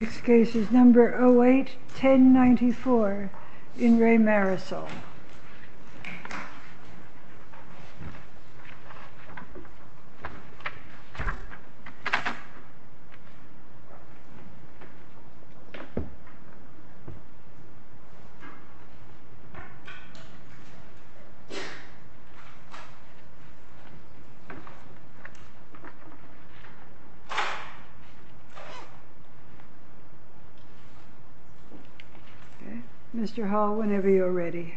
This case is number 08-1094 in Re Marisol. Mr. Hall, whenever you're ready.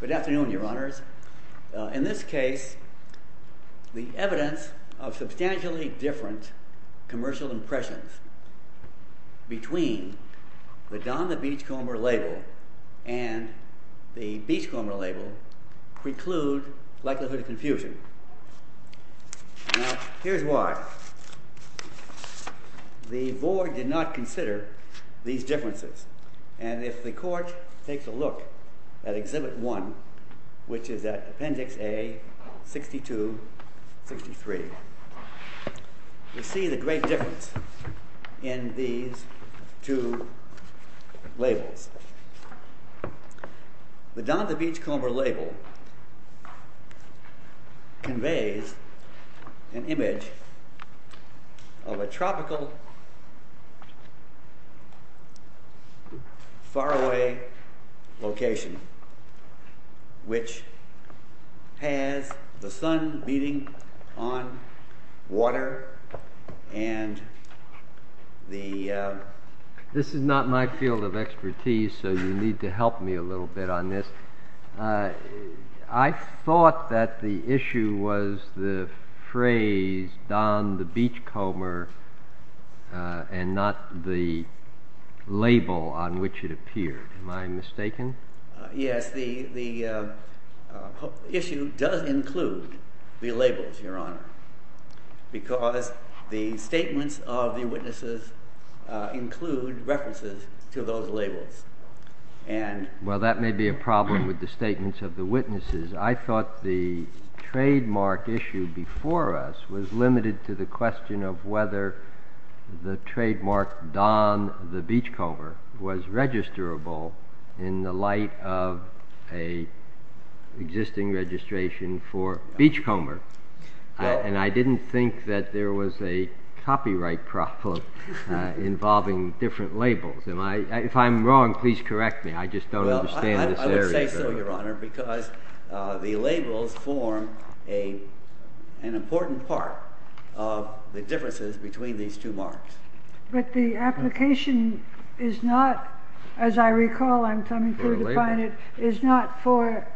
Good afternoon, Your Honors. In this case, the evidence of substantially different commercial impressions between the Don the Beachcomber label and the Beachcomber label preclude likelihood of confusion. Now, here's why. The Board did not consider these differences. And if the Court takes a look at Exhibit 1, which is at Appendix A-62-63, we see the great difference in these two labels. The Don the Beachcomber label conveys an image of a tropical, faraway location, which has the sun beating on water and the... This is not my field of expertise, so you need to help me a little bit on this. I thought that the issue was the phrase Don the Beachcomber and not the label on which it appeared. Am I mistaken? Yes, the issue does include the labels, Your Honor, because the statements of the witnesses include references to those labels. Well, that may be a problem with the statements of the witnesses. I thought the trademark issue before us was limited to the question of whether the trademark Don the Beachcomber was registrable in the light of an existing registration for Beachcomber. And I didn't think that there was a copyright problem involving different labels. If I'm wrong, please correct me. I just don't understand this area. Well, I would say so, Your Honor, because the labels form an important part of the differences between these two marks. But the application is not, as I recall, I'm coming through to find it, is not for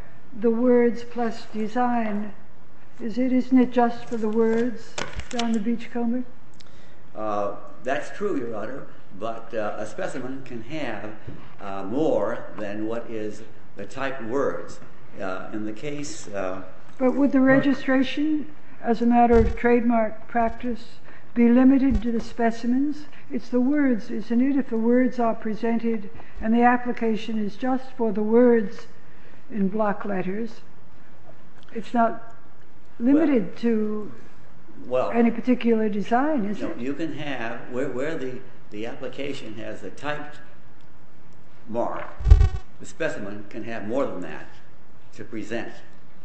the words plus design. Isn't it just for the words, Don the Beachcomber? That's true, Your Honor, but a specimen can have more than what is the type words. In the case... But would the registration, as a matter of trademark practice, be limited to the specimens? It's the words, isn't it, if the words are presented and the application is just for the words in block letters? It's not limited to any particular design, is it? No, you can have, where the application has a typed mark, the specimen can have more than that to present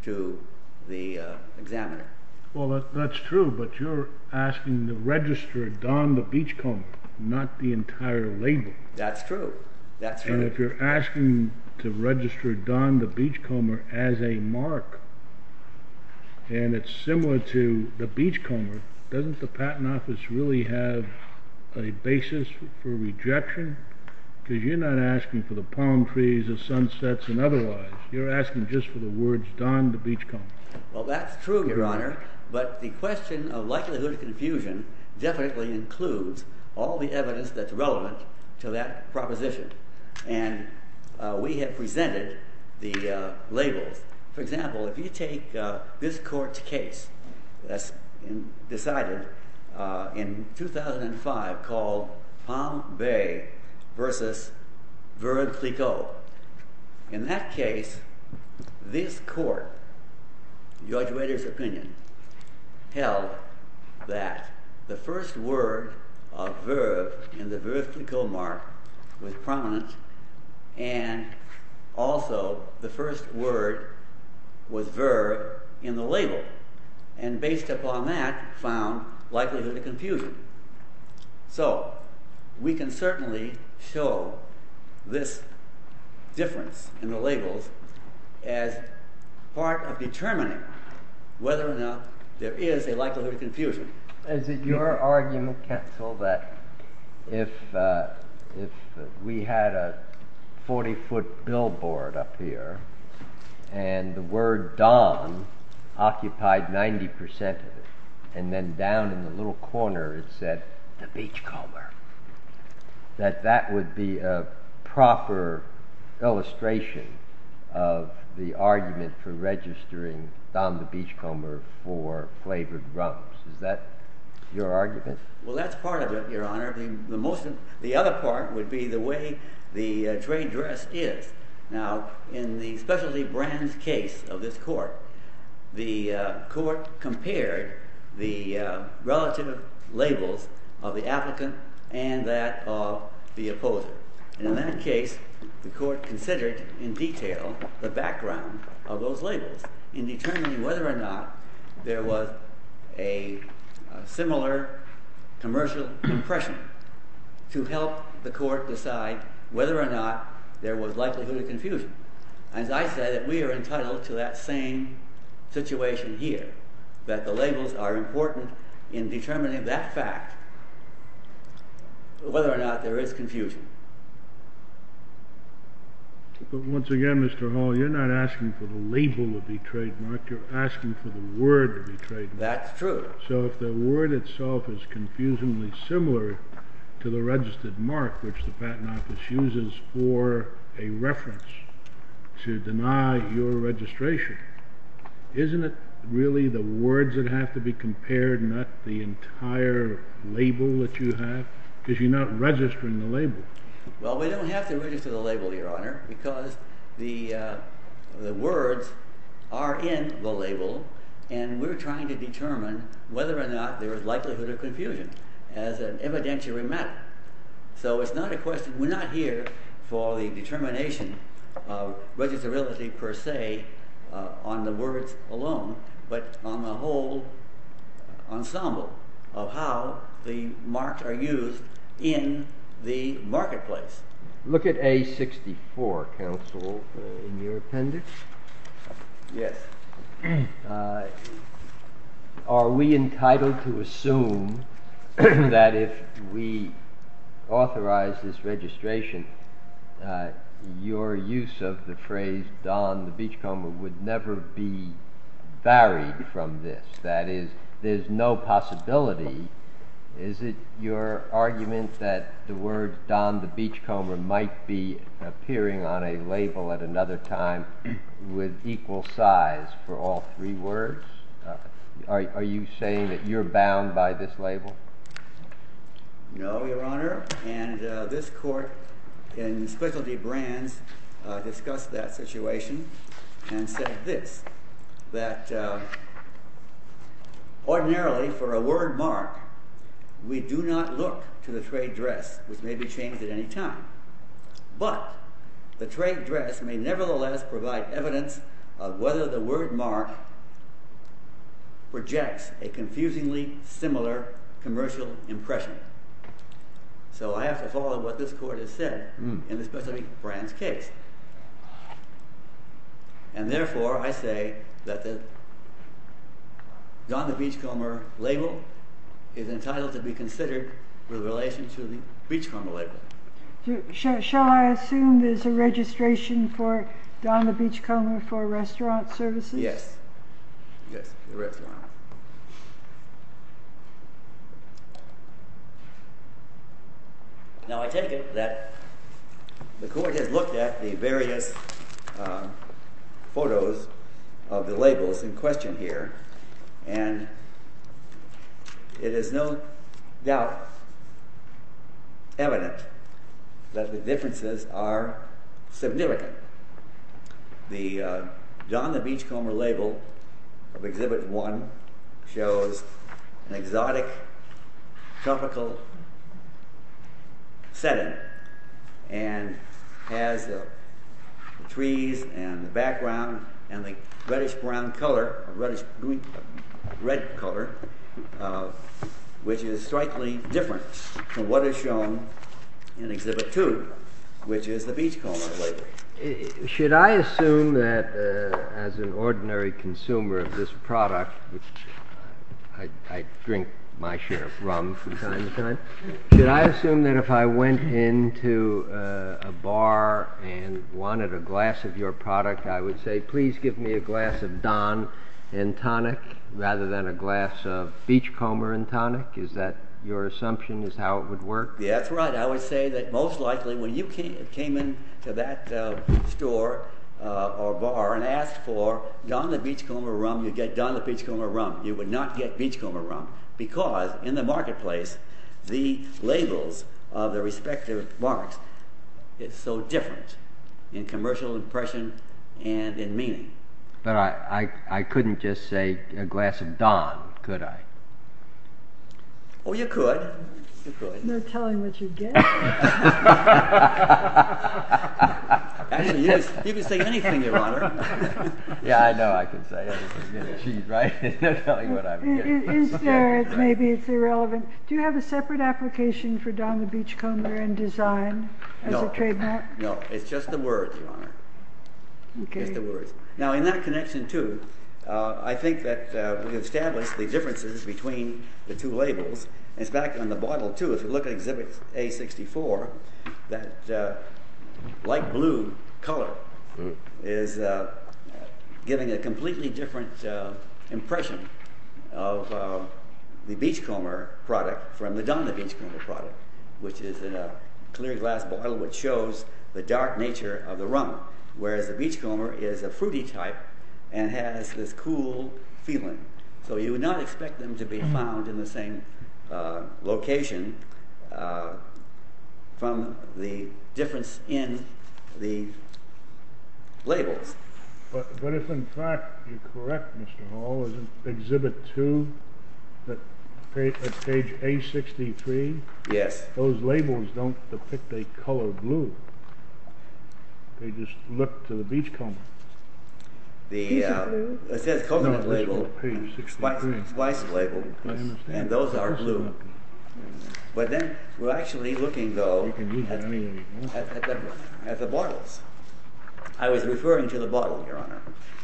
to the examiner. Well, that's true, but you're asking to register Don the Beachcomber, not the entire label. That's true. That's true. But if you're asking to register Don the Beachcomber as a mark, and it's similar to the Beachcomber, doesn't the Patent Office really have a basis for rejection? Because you're not asking for the palm trees, the sunsets, and otherwise. You're asking just for the words Don the Beachcomber. Well, that's true, Your Honor, but the question of likelihood of confusion definitely includes all the evidence that's relevant to that proposition. And we have presented the labels. For example, if you take this court's case that's decided in 2005 called Palm Bay versus Verve Clicquot. So in that case, this court, Judge Rader's opinion, held that the first word of Verve in the Verve Clicquot mark was prominent, and also the first word was Verve in the label. And based upon that, found likelihood of confusion. So we can certainly show this difference in the labels as part of determining whether or not there is a likelihood of confusion. Is it your argument, counsel, that if we had a 40-foot billboard up here, and the word Don occupied 90% of it, and then down in the little corner it said the Beachcomber, that that would be a proper illustration of the argument for registering Don the Beachcomber for flavored rums? Is that your argument? Well, that's part of it, Your Honor. The other part would be the way the trade dress is. Now, in the specialty brands case of this court, the court compared the relative labels of the applicant and that of the opposer. And in that case, the court considered in detail the background of those labels in determining whether or not there was a similar commercial impression to help the court decide whether or not there was likelihood of confusion. As I said, we are entitled to that same situation here, that the labels are important in determining that fact, whether or not there is confusion. But once again, Mr. Hall, you're not asking for the label to be trademarked. You're asking for the word to be trademarked. That's true. So if the word itself is confusingly similar to the registered mark, which the patent office uses for a reference to deny your registration, isn't it really the words that have to be compared, not the entire label that you have? Because you're not registering the label. Well, we don't have to register the label, Your Honor, because the words are in the label and we're trying to determine whether or not there is likelihood of confusion as an evidentiary matter. So it's not a question—we're not here for the determination of registerility per se on the words alone, but on the whole ensemble of how the marks are used in the marketplace. Look at A-64, counsel, in your appendix. Yes. Are we entitled to assume that if we authorize this registration, your use of the phrase, Don the beachcomber, would never be varied from this? That is, there's no possibility. Is it your argument that the word Don the beachcomber might be appearing on a label at another time with equal size for all three words? Are you saying that you're bound by this label? No, Your Honor. And this court in specialty brands discussed that situation and said this, that ordinarily for a word mark, we do not look to the trade dress, which may be changed at any time. But the trade dress may nevertheless provide evidence of whether the word mark projects a confusingly similar commercial impression. So I have to follow what this court has said in the specialty brands case. And therefore I say that the Don the beachcomber label is entitled to be considered with relation to the beachcomber label. Shall I assume there's a registration for Don the beachcomber for restaurant services? Yes. Yes, the restaurant. Now I take it that the court has looked at the various photos of the labels in question here, and it is no doubt evident that the differences are significant. The Don the beachcomber label of Exhibit 1 shows an exotic tropical setting and has the trees and the background and the reddish brown color, red color, which is strikingly different from what is shown in Exhibit 2, which is the beachcomber label. Should I assume that as an ordinary consumer of this product, which I drink my share of rum from time to time, should I assume that if I went into a bar and wanted a glass of your product, I would say please give me a glass of Don and tonic rather than a glass of beachcomber and tonic? Is that your assumption as to how it would work? Yes, that's right. I would say that most likely when you came in to that store or bar and asked for Don the beachcomber rum, you'd get Don the beachcomber rum. You would not get beachcomber rum because in the marketplace, the labels of the respective marks is so different in commercial impression and in meaning. But I couldn't just say a glass of Don, could I? Oh, you could. You could. There's no telling what you'd get. Actually, you could say anything, Your Honor. Yeah, I know I could say anything. Is there, maybe it's irrelevant, do you have a separate application for Don the beachcomber in design as a trademark? No, it's just the words, Your Honor. Now in that connection too, I think that we've established the differences between the two labels. It's back on the bottle too. If you look at exhibit A64, that light blue color is giving a completely different impression of the beachcomber product from the Don the beachcomber product, which is a clear glass bottle which shows the dark nature of the rum. Whereas the beachcomber is a fruity type and has this cool feeling. So you would not expect them to be found in the same location from the difference in the labels. But if in fact you're correct, Mr. Hall, in exhibit 2, at page A63, those labels don't depict a color blue. They just look to the beachcomber. It says coconut label and spice label, and those are blue. But then we're actually looking, though, at the bottles. I was referring to the bottle, Your Honor.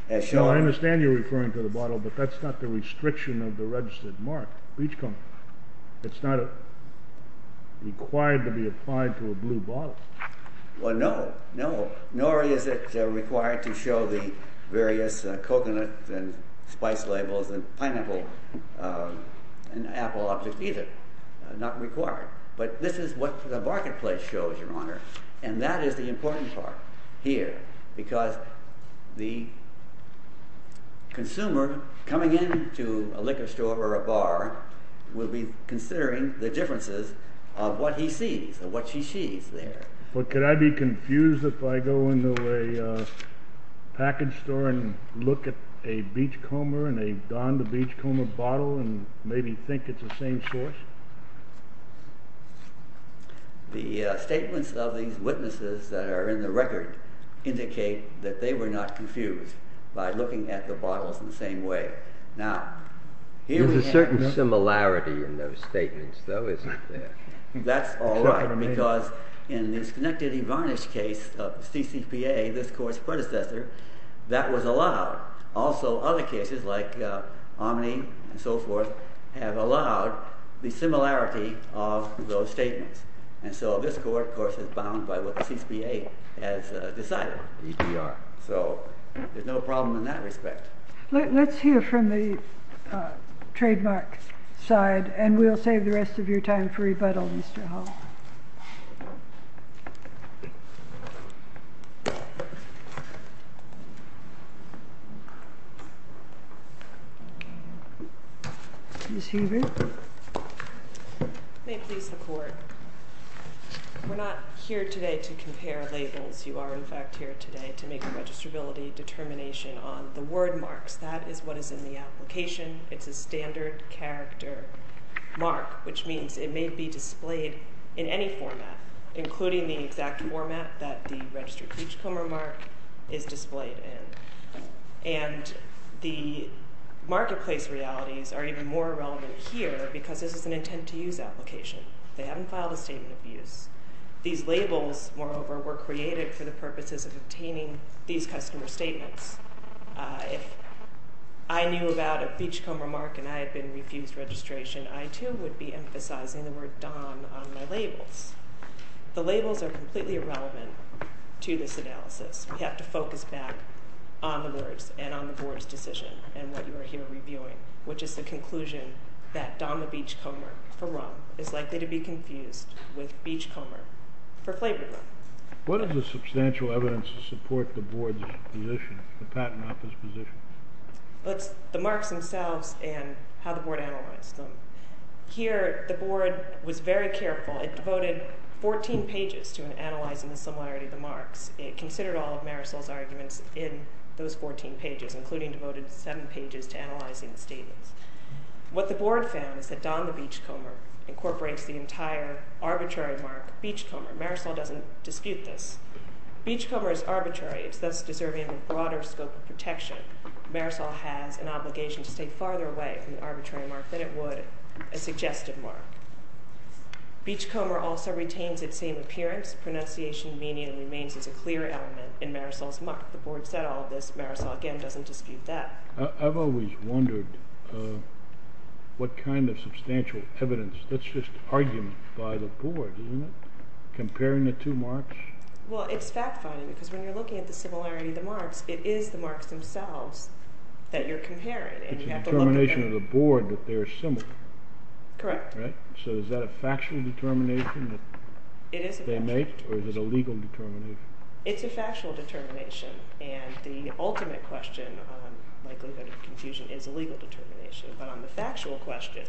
I understand you're referring to the bottle, but that's not the restriction of the registered mark, beachcomber. It's not required to be applied to a blue bottle. Well, no. Nor is it required to show the various coconut and spice labels and pineapple and apple objects either. Not required. But this is what the marketplace shows, Your Honor, and that is the important part here, because the consumer coming into a liquor store or a bar will be considering the differences of what he sees and what she sees there. But could I be confused if I go into a package store and look at a beachcomber and a Don the Beachcomber bottle and maybe think it's the same source? The statements of these witnesses that are in the record indicate that they were not confused by looking at the bottles in the same way. There's a certain similarity in those statements, though, isn't there? That's all right, because in the disconnected Evarnish case of CCPA, this court's predecessor, that was allowed. Also, other cases like Omni and so forth have allowed the similarity of those statements. And so this court, of course, is bound by what CCPA has decided. So there's no problem in that respect. Let's hear from the trademark side and we'll save the rest of your time for rebuttal. Ms. Huber? May it please the Court, we're not here today to compare labels. You are, in fact, here today to make a registrability determination on the word marks. That is what is in the application. It's a standard character mark, which means it may be displayed in any format, including the exact format that the registered beachcomber mark is displayed in. And the marketplace realities are even more relevant here because this is an intent-to-use application. They haven't filed a statement of use. These labels, moreover, were created for the purposes of obtaining these customer statements. If I knew about a beachcomber mark and I had been refused registration, I, too, would be emphasizing the word DOM on my labels. The labels are completely irrelevant to this analysis. We have to focus back on the words and on the Board's decision and what you are here reviewing, which is the conclusion that DOM, a beachcomber for rum, is likely to be confused with beachcomber for flavored rum. What is the substantial evidence to support the Board's position, the Patent Office's position? The marks themselves and how the Board analyzed them. Here, the Board was very careful. It devoted 14 pages to analyzing the similarity of the marks. It considered all of Marisol's arguments in those 14 pages, including devoted seven pages to analyzing the statements. What the Board found is that DOM, the beachcomber, incorporates the entire arbitrary mark, beachcomber. Marisol doesn't dispute this. Beachcomber is arbitrary. It's thus deserving of a broader scope of protection. Marisol has an obligation to stay farther away from the arbitrary mark than it would a suggestive mark. Beachcomber also retains its same appearance. Pronunciation, meaning, and remains as a clear element in Marisol's mark. The Board said all of this. Marisol, again, doesn't dispute that. I've always wondered what kind of substantial evidence, that's just argument by the Board, isn't it, comparing the two marks? Well, it's fact-finding because when you're looking at the similarity of the marks, it is the marks themselves that you're comparing. It's a determination of the Board that they are similar. Correct. So is that a factual determination that they make, or is it a legal determination? It's a factual determination, and the ultimate question on likelihood of confusion is a legal determination. But on the factual question,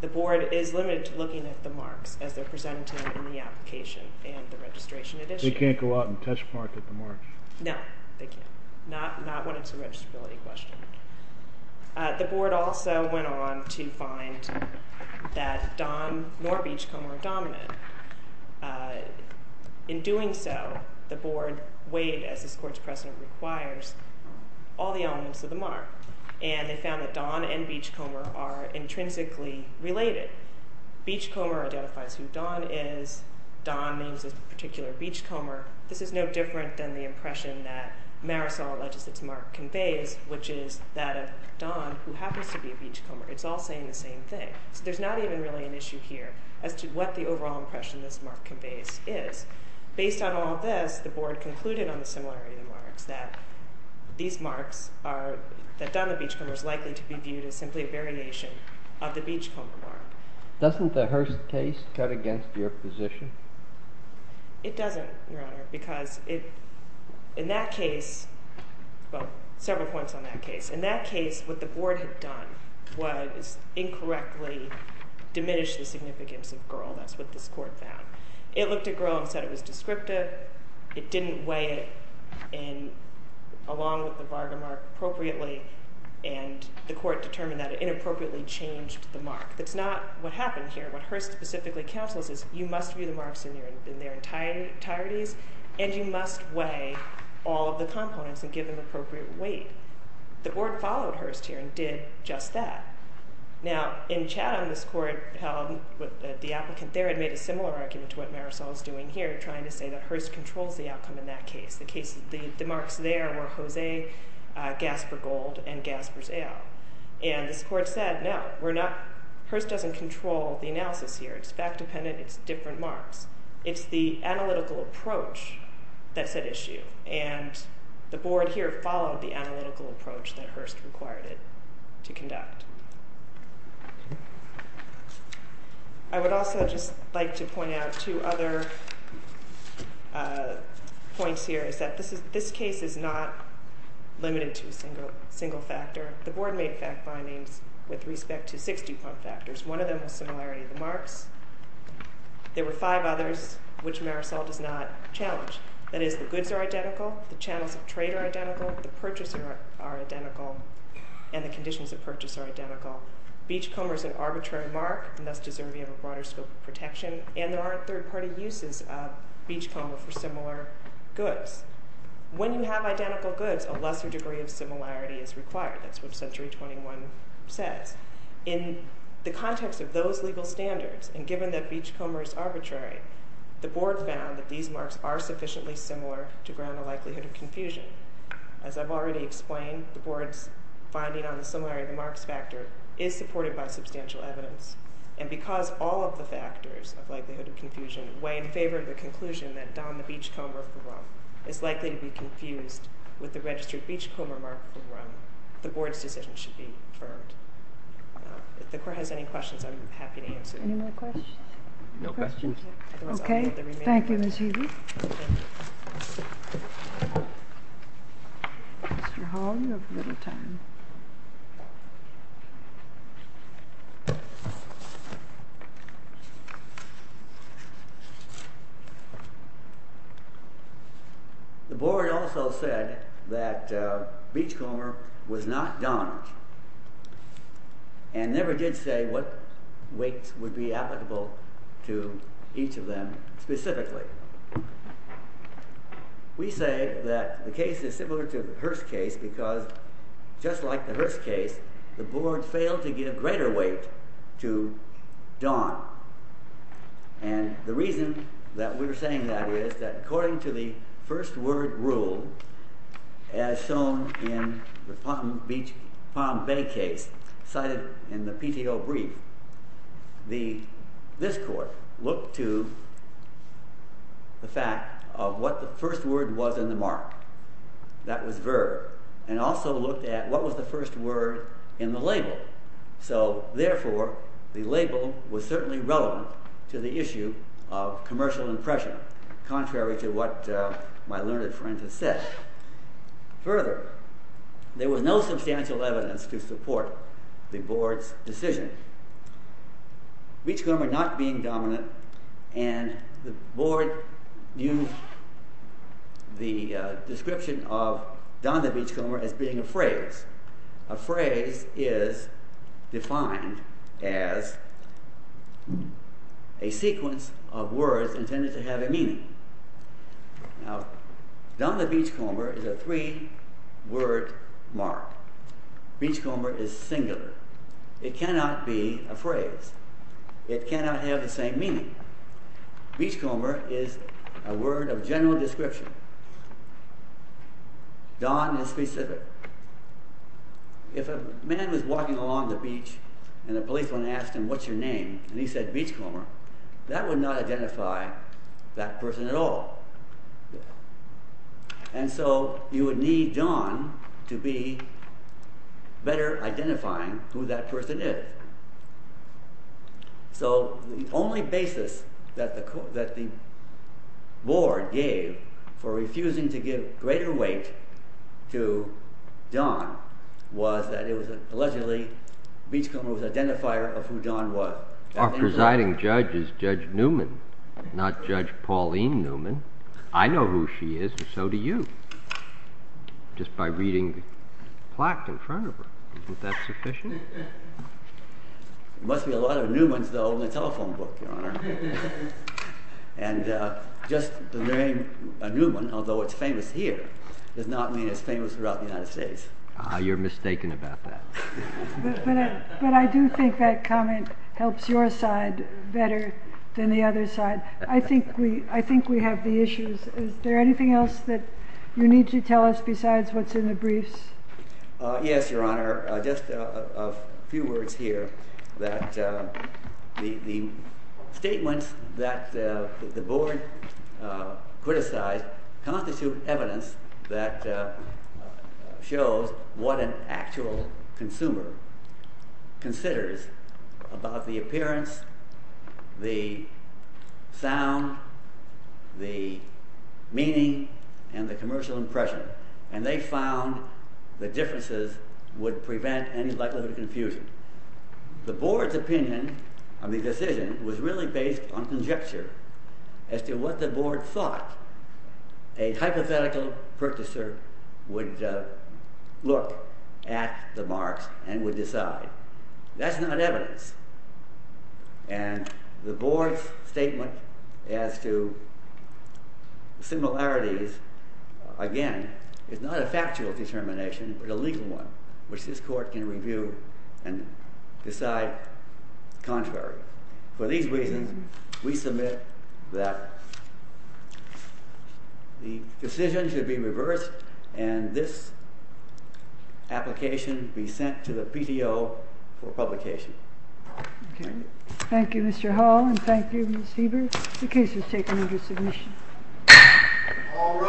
the Board is limited to looking at the marks as they're presented to them in the application and the registration it issues. They can't go out and test-mark at the marks? No, they can't. Not when it's a registrability question. The Board also went on to find that Don nor Beachcomber are dominant. In doing so, the Board weighed, as this Court's precedent requires, all the elements of the mark, and they found that Don and Beachcomber are intrinsically related. Beachcomber identifies who Don is. Don means this particular Beachcomber. This is no different than the impression that Marisol alleges its mark conveys, which is that of Don, who happens to be a Beachcomber. It's all saying the same thing. So there's not even really an issue here as to what the overall impression this mark conveys is. Based on all of this, the Board concluded on the similarity of the marks, that Don the Beachcomber is likely to be viewed as simply a variation of the Beachcomber mark. Doesn't the Hearst case cut against your position? It doesn't, Your Honor, because in that case—well, several points on that case. In that case, what the Board had done was incorrectly diminish the significance of Girl. That's what this Court found. It looked at Girl and said it was descriptive. It didn't weigh it along with the Varga mark appropriately, and the Court determined that it inappropriately changed the mark. That's not what happened here. What Hearst specifically counsels is you must view the marks in their entireties, and you must weigh all of the components and give them appropriate weight. The Board followed Hearst here and did just that. Now, in Chatham, this Court held that the applicant there had made a similar argument to what Marisol is doing here, trying to say that Hearst controls the outcome in that case. And this Court said, no, we're not—Hearst doesn't control the analysis here. It's fact-dependent. It's different marks. It's the analytical approach that's at issue, and the Board here followed the analytical approach that Hearst required it to conduct. I would also just like to point out two other points here, is that this case is not limited to a single factor. The Board made fact findings with respect to six dupont factors. One of them was similarity of the marks. There were five others, which Marisol does not challenge. That is, the goods are identical, the channels of trade are identical, the purchasers are identical, and the conditions of purchase are identical. Beachcomber is an arbitrary mark and thus deserves a broader scope of protection, and there aren't third-party uses of beachcomber for similar goods. When you have identical goods, a lesser degree of similarity is required. That's what Century 21 says. In the context of those legal standards, and given that beachcomber is arbitrary, the Board found that these marks are sufficiently similar to ground the likelihood of confusion. As I've already explained, the Board's finding on the similarity of the marks factor is supported by substantial evidence. And because all of the factors of likelihood of confusion weigh in favor of the conclusion that Don the beachcomber for rum is likely to be confused with the registered beachcomber mark for rum, the Board's decision should be affirmed. If the Court has any questions, I'm happy to answer them. Any more questions? No questions. OK. Thank you, Ms. Healy. Thank you. Mr. Hall, you have a little time. Thank you. The Board also said that beachcomber was not Don, and never did say what weights would be applicable to each of them specifically. We say that the case is similar to the Hearst case because, just like the Hearst case, the Board failed to give greater weight to Don. And the reason that we're saying that is that according to the first word rule, as shown in the Palm Bay case, cited in the PTO brief, this Court looked to the fact of what the first word was in the mark. That was verb. And also looked at what was the first word in the label. So, therefore, the label was certainly relevant to the issue of commercial impression, contrary to what my learned friend has said. Further, there was no substantial evidence to support the Board's decision. Beachcomber not being dominant, and the Board knew the description of Don the beachcomber as being a phrase. A phrase is defined as a sequence of words intended to have a meaning. Now, Don the beachcomber is a three-word mark. Beachcomber is singular. It cannot be a phrase. It cannot have the same meaning. Beachcomber is a word of general description. Don is specific. If a man was walking along the beach, and a policeman asked him, What's your name? And he said, Beachcomber. That would not identify that person at all. And so you would need Don to be better identifying who that person is. So the only basis that the Board gave for refusing to give greater weight to Don was that allegedly Beachcomber was an identifier of who Don was. Our presiding judge is Judge Newman, not Judge Pauline Newman. I know who she is, and so do you, just by reading the plaque in front of her. Isn't that sufficient? There must be a lot of Newmans, though, in the telephone book, Your Honor. And just the name Newman, although it's famous here, does not mean it's famous throughout the United States. You're mistaken about that. But I do think that comment helps your side better than the other side. I think we have the issues. Is there anything else that you need to tell us besides what's in the briefs? Yes, Your Honor. There are just a few words here that the statements that the Board criticized constitute evidence that shows what an actual consumer considers about the appearance, the sound, the meaning, and the commercial impression. And they found the differences would prevent any likelihood of confusion. The Board's opinion of the decision was really based on conjecture as to what the Board thought a hypothetical purchaser would look at the marks and would decide. That's not evidence. And the Board's statement as to similarities, again, is not a factual determination but a legal one, which this Court can review and decide contrary. For these reasons, we submit that the decision should be reversed and this application be sent to the PTO for publication. Okay. Thank you, Mr. Hall, and thank you, Ms. Heber. The case is taken into submission. All rise.